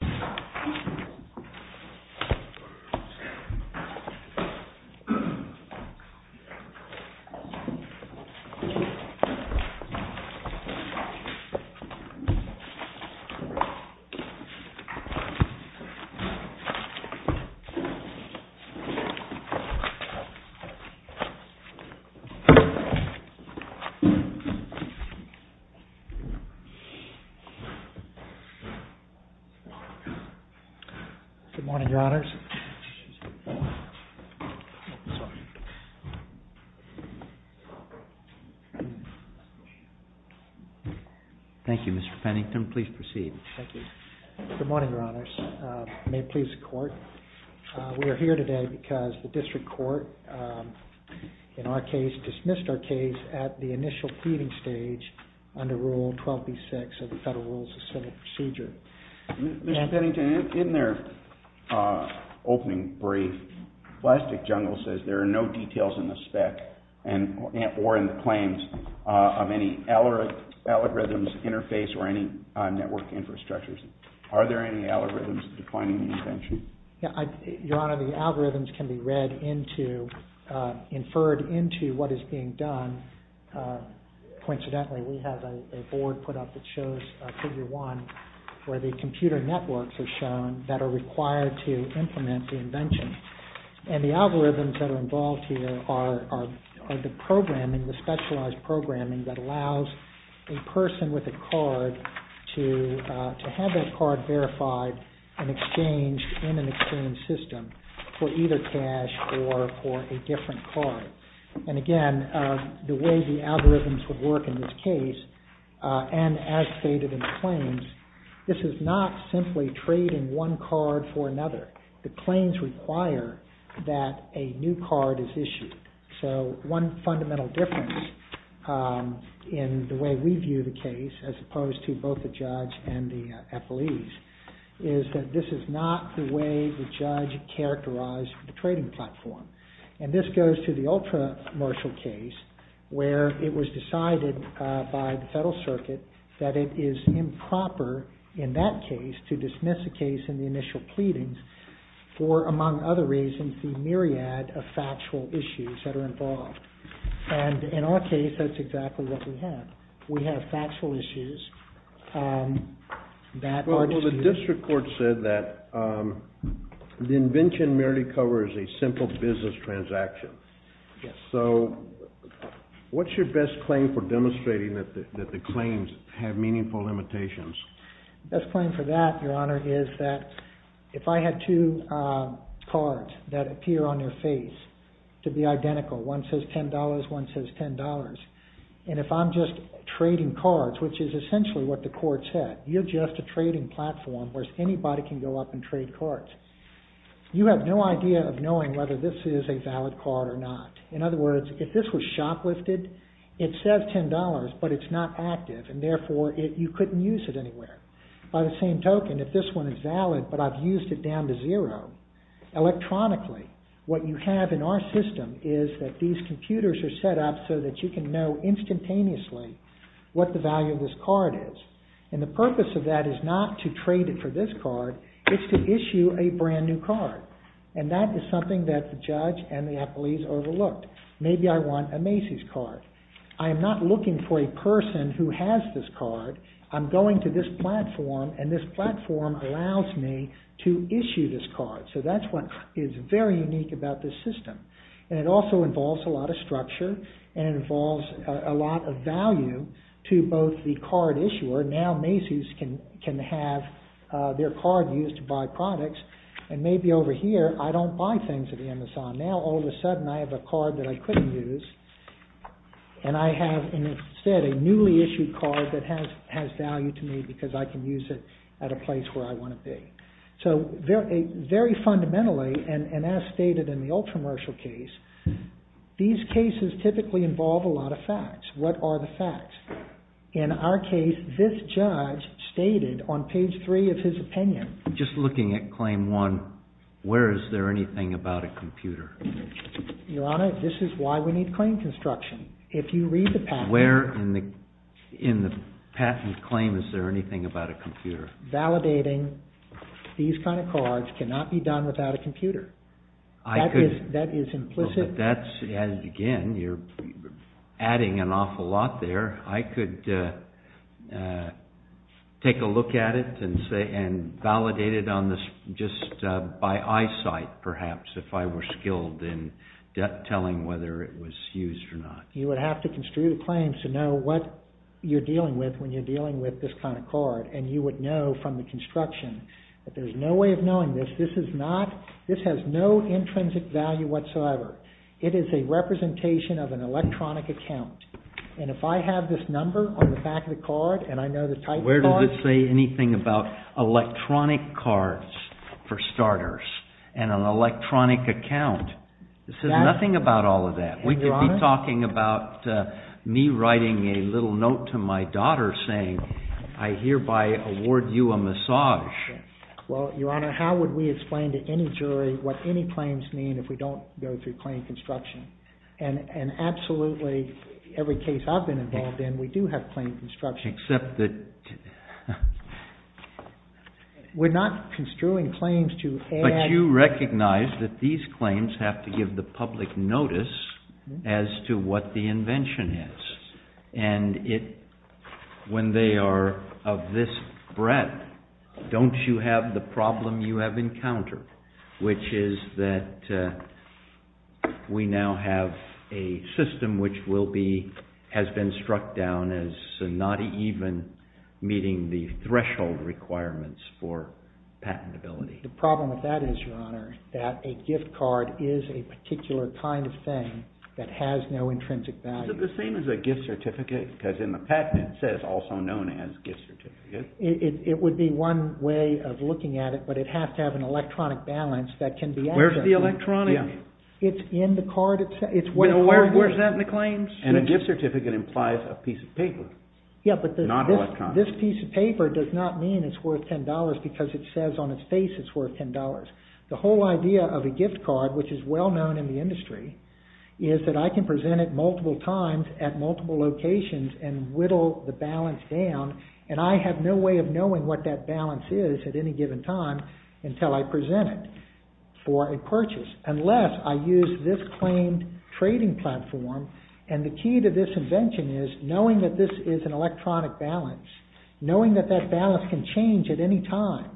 Plastic Jungle, Inc. v. Plastic Jungle, Inc. Good morning, Your Honors. Thank you, Mr. Pennington. Please proceed. Thank you. Good morning, Your Honors. May it please the Court, we are here today because the District Court in our case dismissed our case at the initial pleading stage under Rule 12b-6 of the Federal Rules of Senate Procedure. Mr. Pennington, in their opening brief, Plastic Jungle says there are no details in the spec or in the claims of any algorithms, interface, or any network infrastructures. Are there any algorithms defining the invention? Your Honor, the algorithms can be read into, inferred into what is being done. Coincidentally, we have a board put up that shows Figure 1 where the computer networks are shown that are required to implement the invention. And the algorithms that are involved here are the programming, the specialized programming that allows a person with a card to have that card verified and exchanged in an exchange system for either cash or for a different card. And again, the way the algorithms would work in this case, and as stated in the claims, this is not simply trading one card for another. The claims require that a new card is issued. So one fundamental difference in the way we view the case, as opposed to both the judge and the appellees, is that this is not the way the judge characterized the trading platform. And this goes to the ultra-martial case, where it was decided by the Federal Circuit that it is improper in that case to dismiss a case in the initial pleadings for, among other reasons, the myriad of factual issues that are involved. And in our case, that's exactly what we have. We have factual issues that are disputed. Mr. Court said that the invention merely covers a simple business transaction. So what's your best claim for demonstrating that the claims have meaningful limitations? The best claim for that, Your Honor, is that if I had two cards that appear on their face to be identical, one says $10, one says $10, and if I'm just trading cards, which is essentially what the court said, you're just a trading platform, whereas anybody can go up and trade cards. You have no idea of knowing whether this is a valid card or not. In other words, if this was shoplifted, it says $10, but it's not active, and therefore you couldn't use it anywhere. By the same token, if this one is valid, but I've used it down to zero, electronically, what you have in our system is that these computers are set up so that you can know And the purpose of that is not to trade it for this card, it's to issue a brand new card, and that is something that the judge and the appellees overlooked. Maybe I want a Macy's card. I'm not looking for a person who has this card. I'm going to this platform, and this platform allows me to issue this card. So that's what is very unique about this system, and it also involves a lot of structure, and now Macy's can have their card used to buy products, and maybe over here, I don't buy things at Amazon. Now, all of a sudden, I have a card that I couldn't use, and I have instead a newly issued card that has value to me because I can use it at a place where I want to be. So very fundamentally, and as stated in the old commercial case, these cases typically involve a lot of facts. What are the facts? In our case, this judge stated on page three of his opinion. Just looking at claim one, where is there anything about a computer? Your Honor, this is why we need claim construction. If you read the patent. Where in the patent claim is there anything about a computer? Validating these kind of cards cannot be done without a computer. That is implicit. Again, you're adding an awful lot there. I could take a look at it and validate it just by eyesight, perhaps, if I were skilled in telling whether it was used or not. You would have to construe the claims to know what you're dealing with when you're dealing with this kind of card, and you would know from the construction that there's no way of knowing this. This has no intrinsic value whatsoever. It is a representation of an electronic account. If I have this number on the back of the card, and I know the type of card. Where does it say anything about electronic cards, for starters, and an electronic account? It says nothing about all of that. We could be talking about me writing a little note to my daughter saying, I hereby award you a massage. Well, Your Honor, how would we explain to any jury what any claims mean if we don't go through claim construction? And absolutely, every case I've been involved in, we do have claim construction. Except that we're not construing claims to add. But you recognize that these claims have to give the public notice as to what the invention is. And when they are of this breadth, don't you have the problem you have encountered? Which is that we now have a system which has been struck down as not even meeting the threshold requirements for patentability. The problem with that is, Your Honor, that a gift card is a particular kind of thing that has no intrinsic value. Is it the same as a gift certificate? Because in the patent, it says also known as gift certificate. It would be one way of looking at it, but it has to have an electronic balance that can be accessed. Where's the electronic? It's in the card itself. It's worth $10. Where's that in the claims? And a gift certificate implies a piece of paper, not electronic. This piece of paper does not mean it's worth $10, because it says on its face it's worth $10. The whole idea of a gift card, which is well known in the industry, is that I can present it multiple times at multiple locations and whittle the balance down, and I have no way of knowing what that balance is at any given time until I present it for a purchase, unless I use this claimed trading platform. And the key to this invention is knowing that this is an electronic balance. Knowing that that balance can change at any time.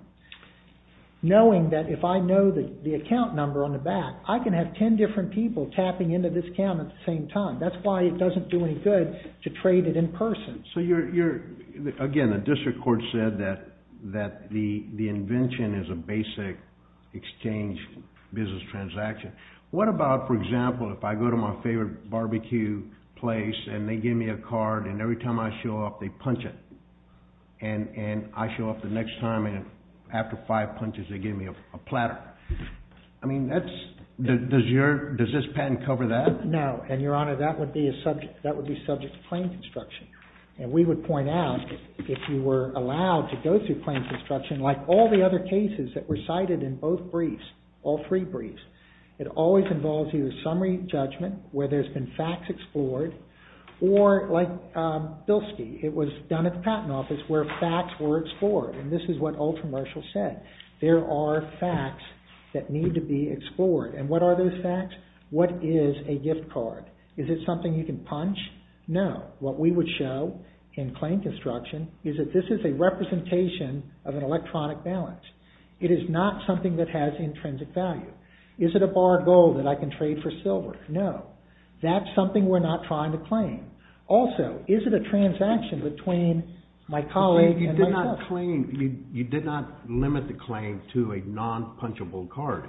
Knowing that if I know the account number on the back, I can have 10 different people tapping into this account at the same time. That's why it doesn't do any good to trade it in person. So you're... Again, the district court said that the invention is a basic exchange business transaction. What about, for example, if I go to my favorite barbecue place and they give me a card and every time I show up they punch it, and I show up the next time and after five punches they give me a platter? I mean, does this patent cover that? No. And your honor, that would be subject to claim construction. And we would point out, if you were allowed to go through claim construction, like all the other cases that were cited in both briefs, all three briefs, it always involves a summary judgment where there's been facts explored, or like Bilski, it was done at the patent office where facts were explored, and this is what Ultramarshall said. There are facts that need to be explored. And what are those facts? What is a gift card? Is it something you can punch? No. What we would show in claim construction is that this is a representation of an electronic balance. It is not something that has intrinsic value. Is it a bar of gold that I can trade for silver? No. That's something we're not trying to claim. Also, is it a transaction between my colleague and myself? You did not limit the claim to a non-punchable card.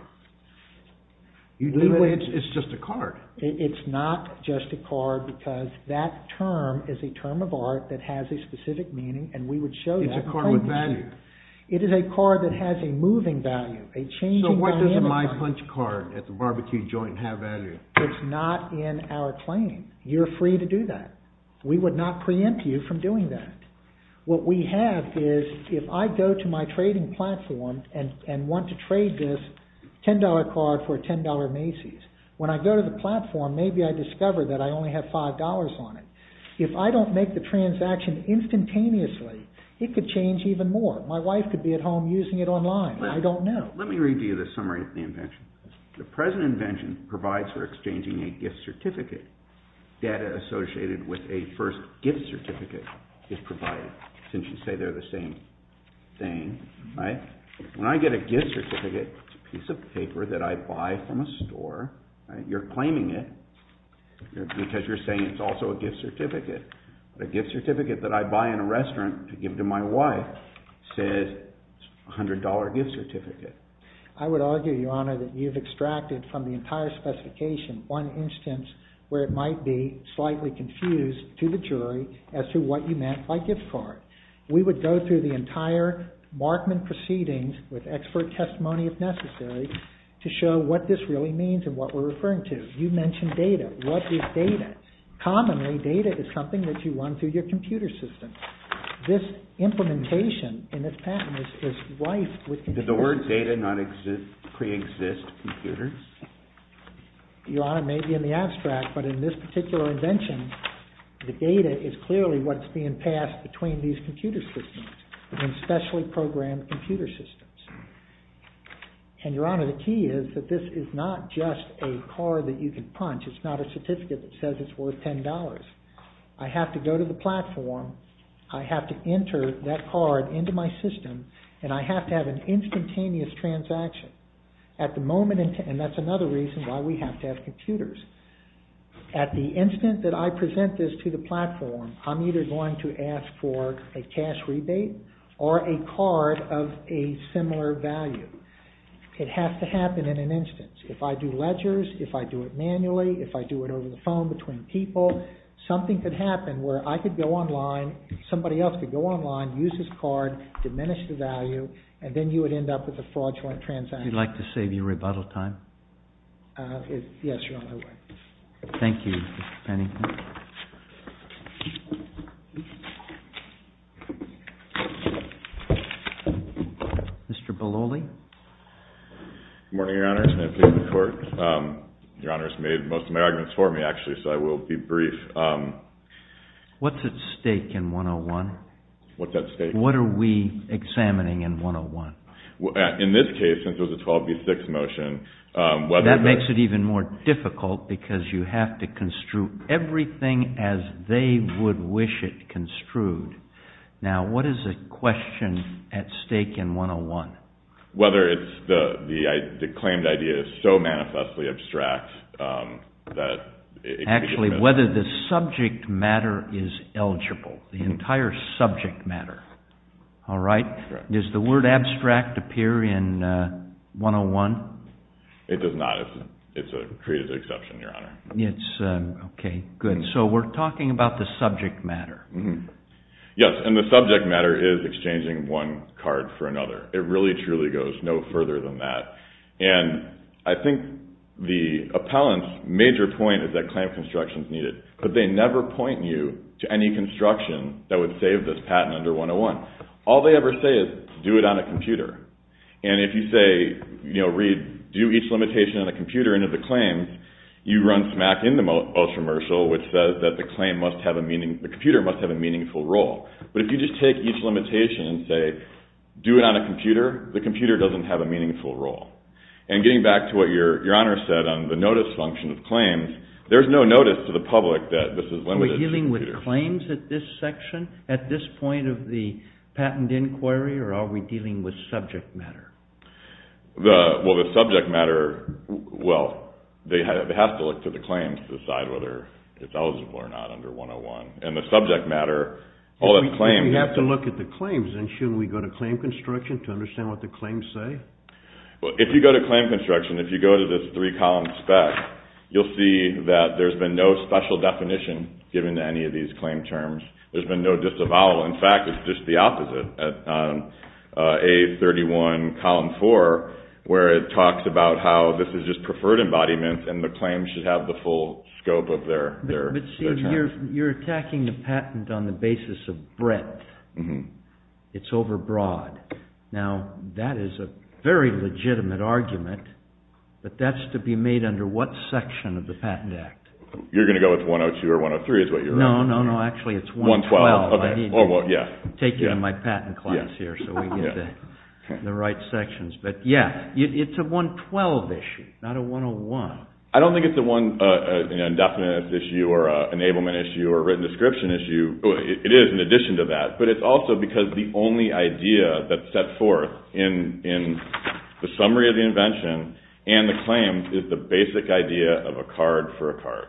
You do it, it's just a card. It's not just a card because that term is a term of art that has a specific meaning, and we would show that. It's a card with value. It is a card that has a moving value, a changing dynamic value. So why doesn't my punch card at the barbecue joint have value? It's not in our claim. You're free to do that. We would not preempt you from doing that. What we have is, if I go to my trading platform and want to trade this $10 card for a $10 Macy's, when I go to the platform, maybe I discover that I only have $5 on it. If I don't make the transaction instantaneously, it could change even more. My wife could be at home using it online. I don't know. Let me read you the summary of the invention. The present invention provides for exchanging a gift certificate. Data associated with a first gift certificate is provided, since you say they're the same thing. When I get a gift certificate, it's a piece of paper that I buy from a store. You're claiming it because you're saying it's also a gift certificate. A gift certificate that I buy in a restaurant to give to my wife says it's a $100 gift certificate. I would argue, Your Honor, that you've extracted from the entire specification one instance where it might be slightly confused to the jury as to what you meant by gift card. We would go through the entire Markman proceedings with expert testimony, if necessary, to show what this really means and what we're referring to. You mentioned data. What is data? Commonly, data is something that you run through your computer system. This implementation in this patent is rife with computer systems. Did the word data not pre-exist computers? Your Honor, maybe in the abstract, but in this particular invention, the data is clearly what's being passed between these computer systems and specially programmed computer systems. Your Honor, the key is that this is not just a card that you can punch. It's not a certificate that says it's worth $10. I have to go to the platform. I have to enter that card into my system. I have to have an instantaneous transaction. At the moment, and that's another reason why we have to have computers, at the instant that I present this to the platform, I'm either going to ask for a cash rebate or a card of a similar value. It has to happen in an instance. If I do ledgers, if I do it manually, if I do it over the phone between people, something could happen where I could go online, somebody else could go online, use this card, diminish the value, and then you would end up with a fraudulent transaction. You'd like to save your rebuttal time? Yes, you're on my way. Thank you, Mr. Pennington. Mr. Belloli? Good morning, Your Honor. It's an honor to be in the court. Your Honor has made most of my arguments for me, actually, so I will be brief. What's at stake in 101? What's at stake? What are we examining in 101? In this case, since there's a 12B6 motion, whether the... That makes it even more difficult because you have to construe everything as they would wish it construed. Now, what is at question at stake in 101? Whether it's the claimed idea is so manifestly abstract that it could be... Specifically, whether the subject matter is eligible, the entire subject matter. All right? Correct. Does the word abstract appear in 101? It does not. It's a creative exception, Your Honor. It's... Okay, good. So we're talking about the subject matter. Mm-hmm. Yes, and the subject matter is exchanging one card for another. It really, truly goes no further than that. And I think the appellant's major point is that claim construction is needed, but they never point you to any construction that would save this patent under 101. All they ever say is, do it on a computer. And if you say, you know, read, do each limitation on a computer into the claims, you run smack in the ultramercial, which says that the claim must have a meaning... The computer must have a meaningful role. But if you just take each limitation and say, do it on a computer, the computer doesn't have a meaningful role. And getting back to what Your Honor said on the notice function of claims, there's no notice to the public that this is limited to computers. Are we dealing with claims at this section, at this point of the patent inquiry, or are we dealing with subject matter? Well, the subject matter, well, they have to look to the claims to decide whether it's eligible or not under 101. And the subject matter, all that's claimed... So we have to look at the claims, and shouldn't we go to claim construction to understand what the claims say? Well, if you go to claim construction, if you go to this three-column spec, you'll see that there's been no special definition given to any of these claim terms. There's been no disavowal. In fact, it's just the opposite at A31, column four, where it talks about how this is just preferred embodiment, and the claims should have the full scope of their terms. But see, you're attacking the patent on the basis of breadth. It's overbroad. Now, that is a very legitimate argument, but that's to be made under what section of the Patent Act? You're going to go with 102 or 103, is what you're saying? No, no, no. Actually, it's 112. I need to take you to my patent class here so we get the right sections. But yeah, it's a 112 issue, not a 101. I don't think it's an indefinite issue or an enablement issue or a written description issue. It is in addition to that, but it's also because the only idea that's set forth in the summary of the invention and the claim is the basic idea of a card for a card,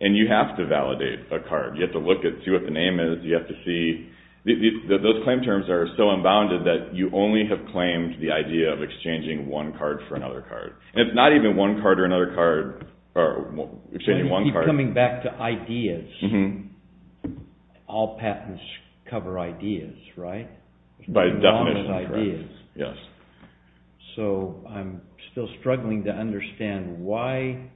and you have to validate a card. You have to look at it, see what the name is, you have to see... Those claim terms are so unbounded that you only have claimed the idea of exchanging one card for another card. And it's not even one card or another card, or exchanging one card. Coming back to ideas, all patents cover ideas, right? By definition, yes. So I'm still struggling to understand why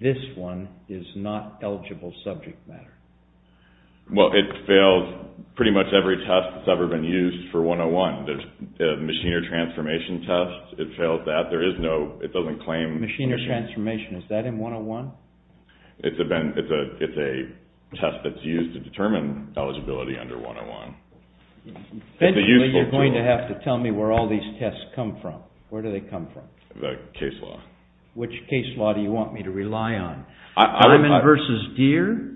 this one is not eligible subject matter. Well, it fails pretty much every test that's ever been used for 101. There's the machinery transformation test, it fails that. There is no... It doesn't claim... Machinery transformation, is that in 101? It's a test that's used to determine eligibility under 101. It's a useful tool. Eventually, you're going to have to tell me where all these tests come from. Where do they come from? The case law. Which case law do you want me to rely on? Diamond versus Deere?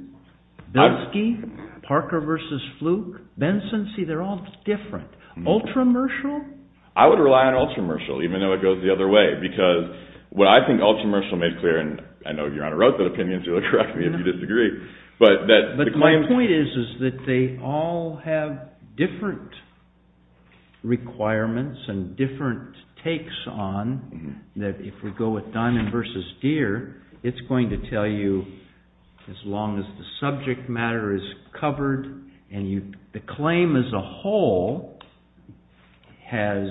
Bensky? Parker versus Fluke? Benson? See, they're all different. Ultramershal? I would rely on Ultramershal, even though it goes the other way, because what I think Ultramershal made clear, and I know Your Honor wrote that opinion, so correct me if you disagree, but that... But my point is, is that they all have different requirements and different takes on that if we go with Diamond versus Deere, it's going to tell you as long as the subject matter is covered and the claim as a whole has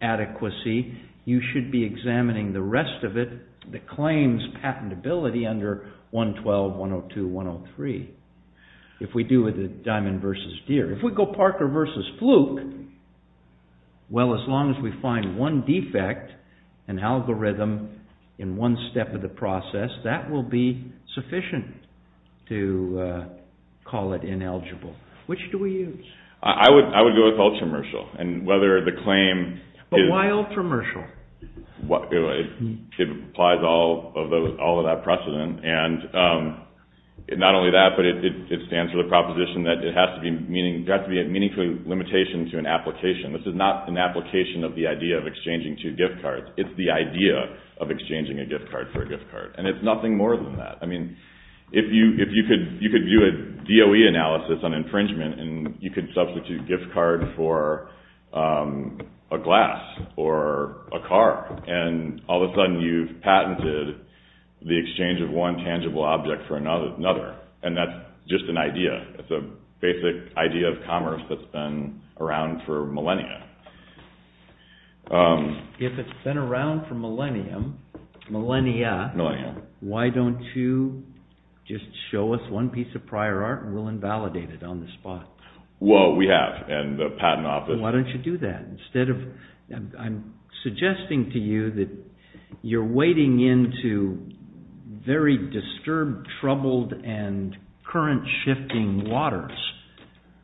adequacy, you should be examining the rest of it. The claims patentability under 112, 102, 103, if we do with Diamond versus Deere, if we go Parker versus Fluke, well, as long as we find one defect, an algorithm in one step of the process, that will be sufficient to call it ineligible. Which do we use? I would go with Ultramershal, and whether the claim... But why Ultramershal? It applies all of that precedent, and not only that, but it stands for the proposition that it has to be a meaningful limitation to an application. This is not an application of the idea of exchanging two gift cards, it's the idea of exchanging a gift card for a gift card, and it's nothing more than that. If you could do a DOE analysis on infringement, and you could substitute gift card for a glass or a car, and all of a sudden you've patented the exchange of one tangible object for another, and that's just an idea, it's a basic idea of commerce that's been around for millennia. If it's been around for millennia, why don't you just show us one piece of prior art and we'll invalidate it on the spot? Well, we have, and the patent office... I'm suggesting to you that you're wading into very disturbed, troubled, and current-shifting waters,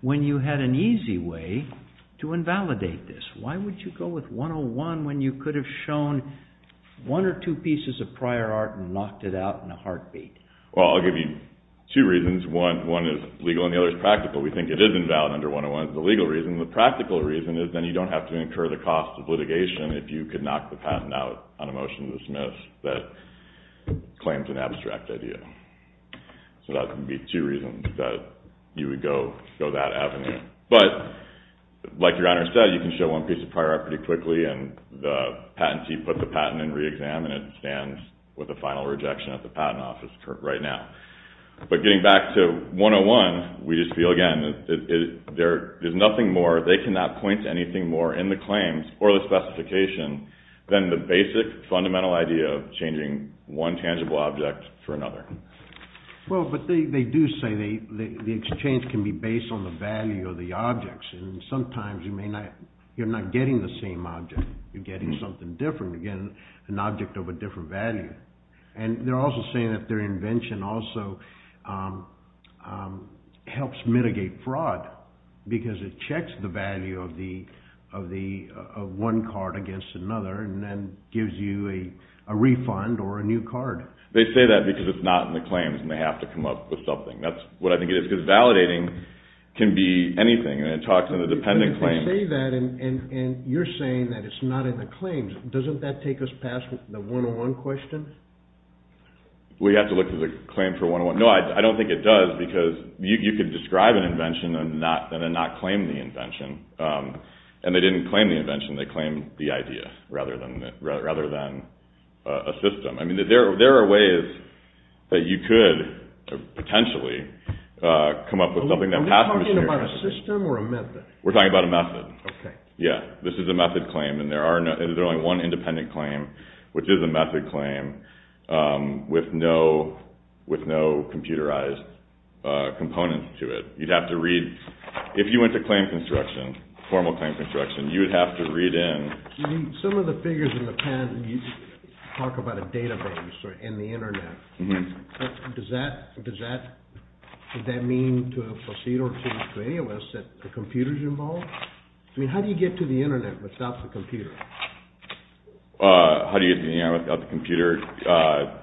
when you had an easy way to invalidate this. Why would you go with 101 when you could have shown one or two pieces of prior art and knocked it out in a heartbeat? Well, I'll give you two reasons. One is legal and the other is practical. We think it is invalid under 101 as the legal reason. The practical reason is then you don't have to incur the cost of litigation if you could knock the patent out on a motion to dismiss that claims an abstract idea. So that would be two reasons that you would go that avenue. But, like your honor said, you can show one piece of prior art pretty quickly and the patentee put the patent in re-exam and it stands with a final rejection at the patent office right now. But getting back to 101, we just feel again that there is nothing more... they cannot point to anything more in the claims or the specification than the basic, fundamental idea of changing one tangible object for another. Well, but they do say the exchange can be based on the value of the objects. And sometimes you're not getting the same object. You're getting something different. You're getting an object of a different value. And they're also saying that their invention also helps mitigate fraud because it checks the value of one card against another and then gives you a refund or a new card. They say that because it's not in the claims and they have to come up with something. That's what I think it is. Because validating can be anything and it talks in the dependent claims. They say that and you're saying that it's not in the claims. Doesn't that take us past the 101 question? We have to look at the claim for 101. No, I don't think it does because you could describe an invention and then not claim the invention. And they didn't claim the invention. They claimed the idea rather than a system. I mean, there are ways that you could potentially come up with something that... Are we talking about a system or a method? We're talking about a method. Okay. Yeah, this is a method claim and there is only one independent claim, which is a method claim with no computerized components to it. You'd have to read... If you went to claim construction, formal claim construction, you'd have to read in... Some of the figures in the pen talk about a database and the internet. Does that mean to a procedure or to any of us that the computer's involved? I mean, how do you get to the internet without the computer? How do you get to the internet without the computer?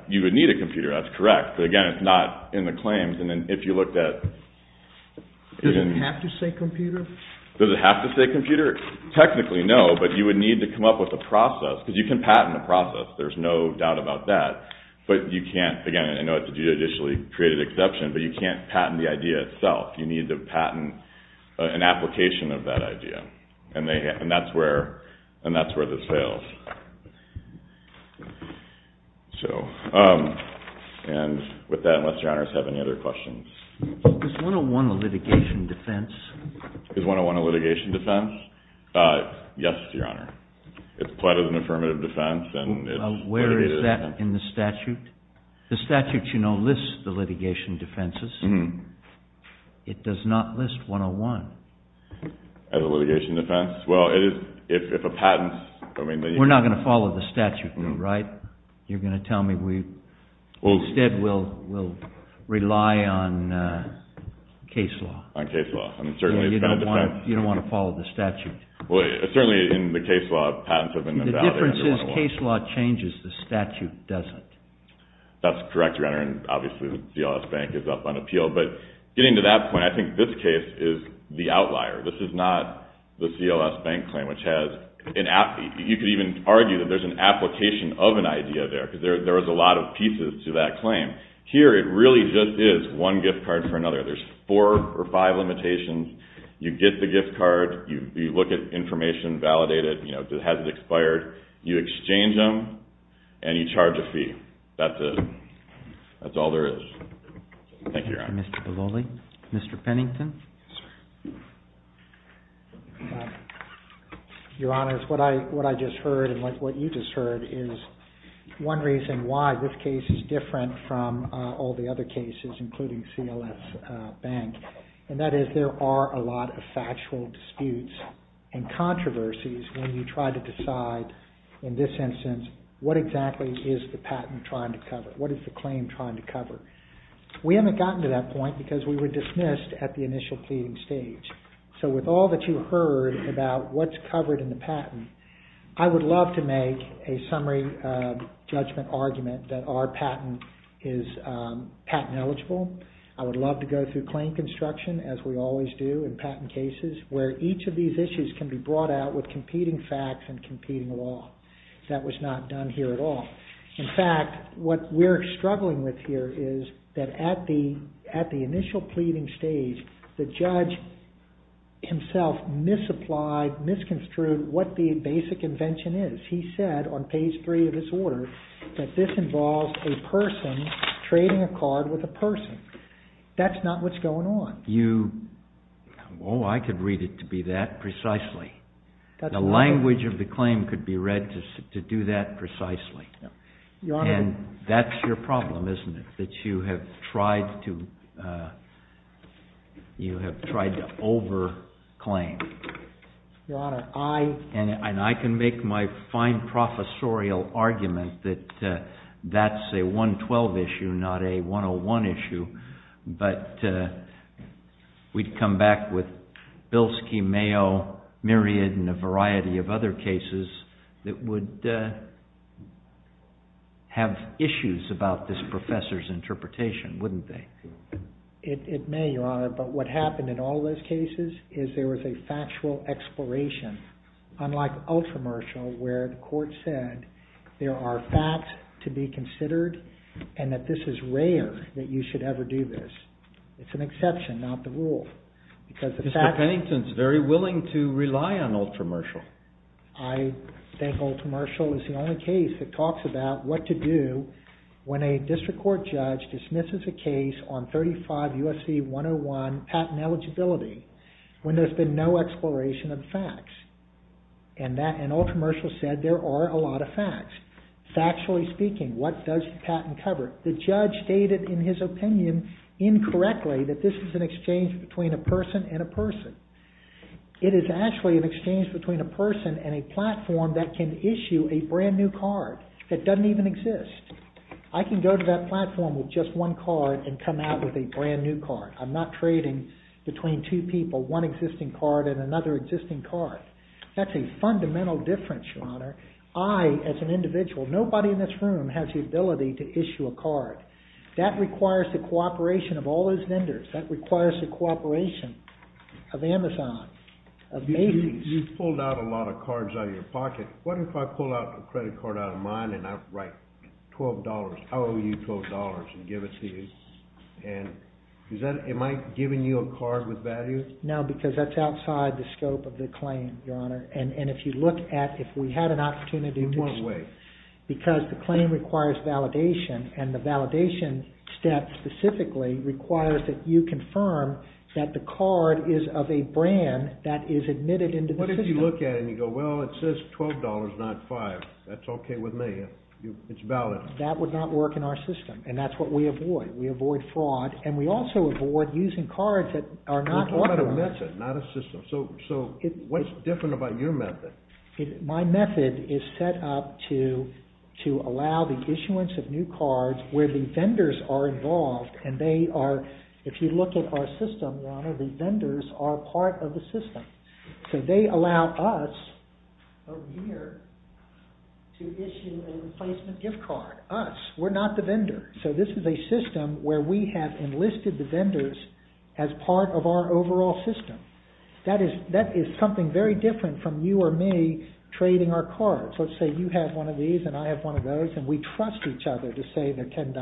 You would need a computer, that's correct. But again, it's not in the claims. And then if you looked at... Does it have to say computer? Does it have to say computer? Technically, no, but you would need to come up with a process because you can patent a process. There's no doubt about that, but you can't... Again, I know it's a judicially created exception, but you can't patent the idea itself. You need to patent an application of that idea, and that's where this fails. And with that, unless your honors have any other questions. Is 101 a litigation defense? Is 101 a litigation defense? Yes, your honor. It's quite an affirmative defense. Where is that in the statute? The statute, you know, lists the litigation defenses. It does not list 101. As a litigation defense? Well, if a patent... We're not going to follow the statute, right? You're going to tell me we... Instead, we'll rely on case law. On case law. You don't want to follow the statute. Certainly, in the case law, patents have been invalidated under 101. The difference is case law changes, the statute doesn't. That's correct, your honor, and obviously CLS Bank is up on appeal. But getting to that point, I think this case is the outlier. This is not the CLS Bank claim, which has... You could even argue that there's an application of an idea there, because there was a lot of pieces to that claim. Here, it really just is one gift card for another. There's four or five limitations. You get the gift card. You look at information, validate it. Has it expired? You exchange them, and you charge a fee. That's it. That's all there is. Thank you, your honor. Mr. Bavoli? Mr. Pennington? Your honor, what I just heard, and what you just heard, is one reason why this case is different from all the other cases, including CLS Bank. And that is, there are a lot of factual disputes and controversies when you try to decide, in this instance, what exactly is the patent trying to cover? What is the claim trying to cover? We haven't gotten to that point, because we were dismissed at the initial pleading stage. So with all that you heard about what's covered in the patent, I would love to make a summary judgment argument that our patent is patent eligible. I would love to go through claim construction, as we always do in patent cases, where each of these issues can be brought out with competing facts and competing law. That was not done here at all. In fact, what we're struggling with here is that at the initial pleading stage, the judge himself misapplied, misconstrued what the basic invention is. He said, on page 3 of his order, that this involves a person trading a card with a person. That's not what's going on. Oh, I could read it to be that precisely. The language of the claim could be read to do that precisely. And that's your problem, isn't it? That you have tried to over-claim. And I can make my fine professorial argument that that's a 112 issue, not a 101 issue. But we'd come back with Bilski, Mayo, Myriad, and a variety of other cases that would have issues about this professor's interpretation, wouldn't they? It may, Your Honor, but what happened in all those cases is there was a factual exploration. Unlike Ultramershal, where the court said there are facts to be considered and that this is rare, that you should ever do this. It's an exception, not the rule. Mr. Pennington's very willing to rely on Ultramershal. I think Ultramershal is the only case that talks about what to do when a district court judge dismisses a case on 35 U.S.C. 101 patent eligibility when there's been no exploration of facts. And Ultramershal said there are a lot of facts. Factually speaking, what does the patent cover? The judge stated in his opinion incorrectly that this is an exchange between a person and a person. It is actually an exchange between a person and a platform that can issue a brand new card that doesn't even exist. I can go to that platform with just one card and come out with a brand new card. I'm not trading between two people, one existing card and another existing card. That's a fundamental difference, Your Honor. I, as an individual, nobody in this room has the ability to issue a card. That requires the cooperation of all those vendors. That requires the cooperation of Amazon, of Macy's. You've pulled out a lot of cards out of your pocket. What if I pull out a credit card out of mine and I write $12. I owe you $12 and give it to you. And is that, am I giving you a card with value? No, because that's outside the scope of the claim, Your Honor. And if you look at, if we had an opportunity to... In what way? Because the claim requires validation. And the validation step specifically requires that you confirm that the card is of a brand that is admitted into the system. What if you look at it and you go, well, it says $12, not $5. That's okay with me. It's valid. That would not work in our system. And that's what we avoid. We avoid fraud. And we also avoid using cards that are not authorized. It's about a method, not a system. So what's different about your method? My method is set up to allow the issuance of new cards where the vendors are involved. And they are, if you look at our system, Your Honor, the vendors are part of the system. So they allow us, over here, to issue a replacement gift card, us. We're not the vendor. So this is a system where we have enlisted the vendors as part of our overall system. That is something very different from you or me trading our cards. Let's say you have one of these and I have one of those and we trust each other to say they're $10.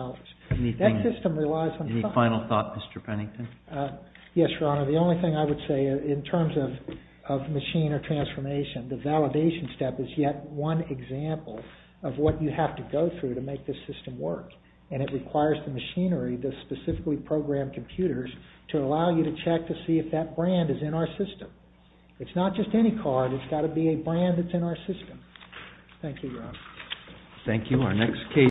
That system relies on trust. Any final thought, Mr. Pennington? Yes, Your Honor. The only thing I would say in terms of machine or transformation, the validation step is yet one example of what you have to go through to make this system work. And it requires the machinery, the specifically programmed computers, to allow you to check to see if that brand is in our system. It's not just any card. It's got to be a brand that's in our system. Thank you, Your Honor. Thank you.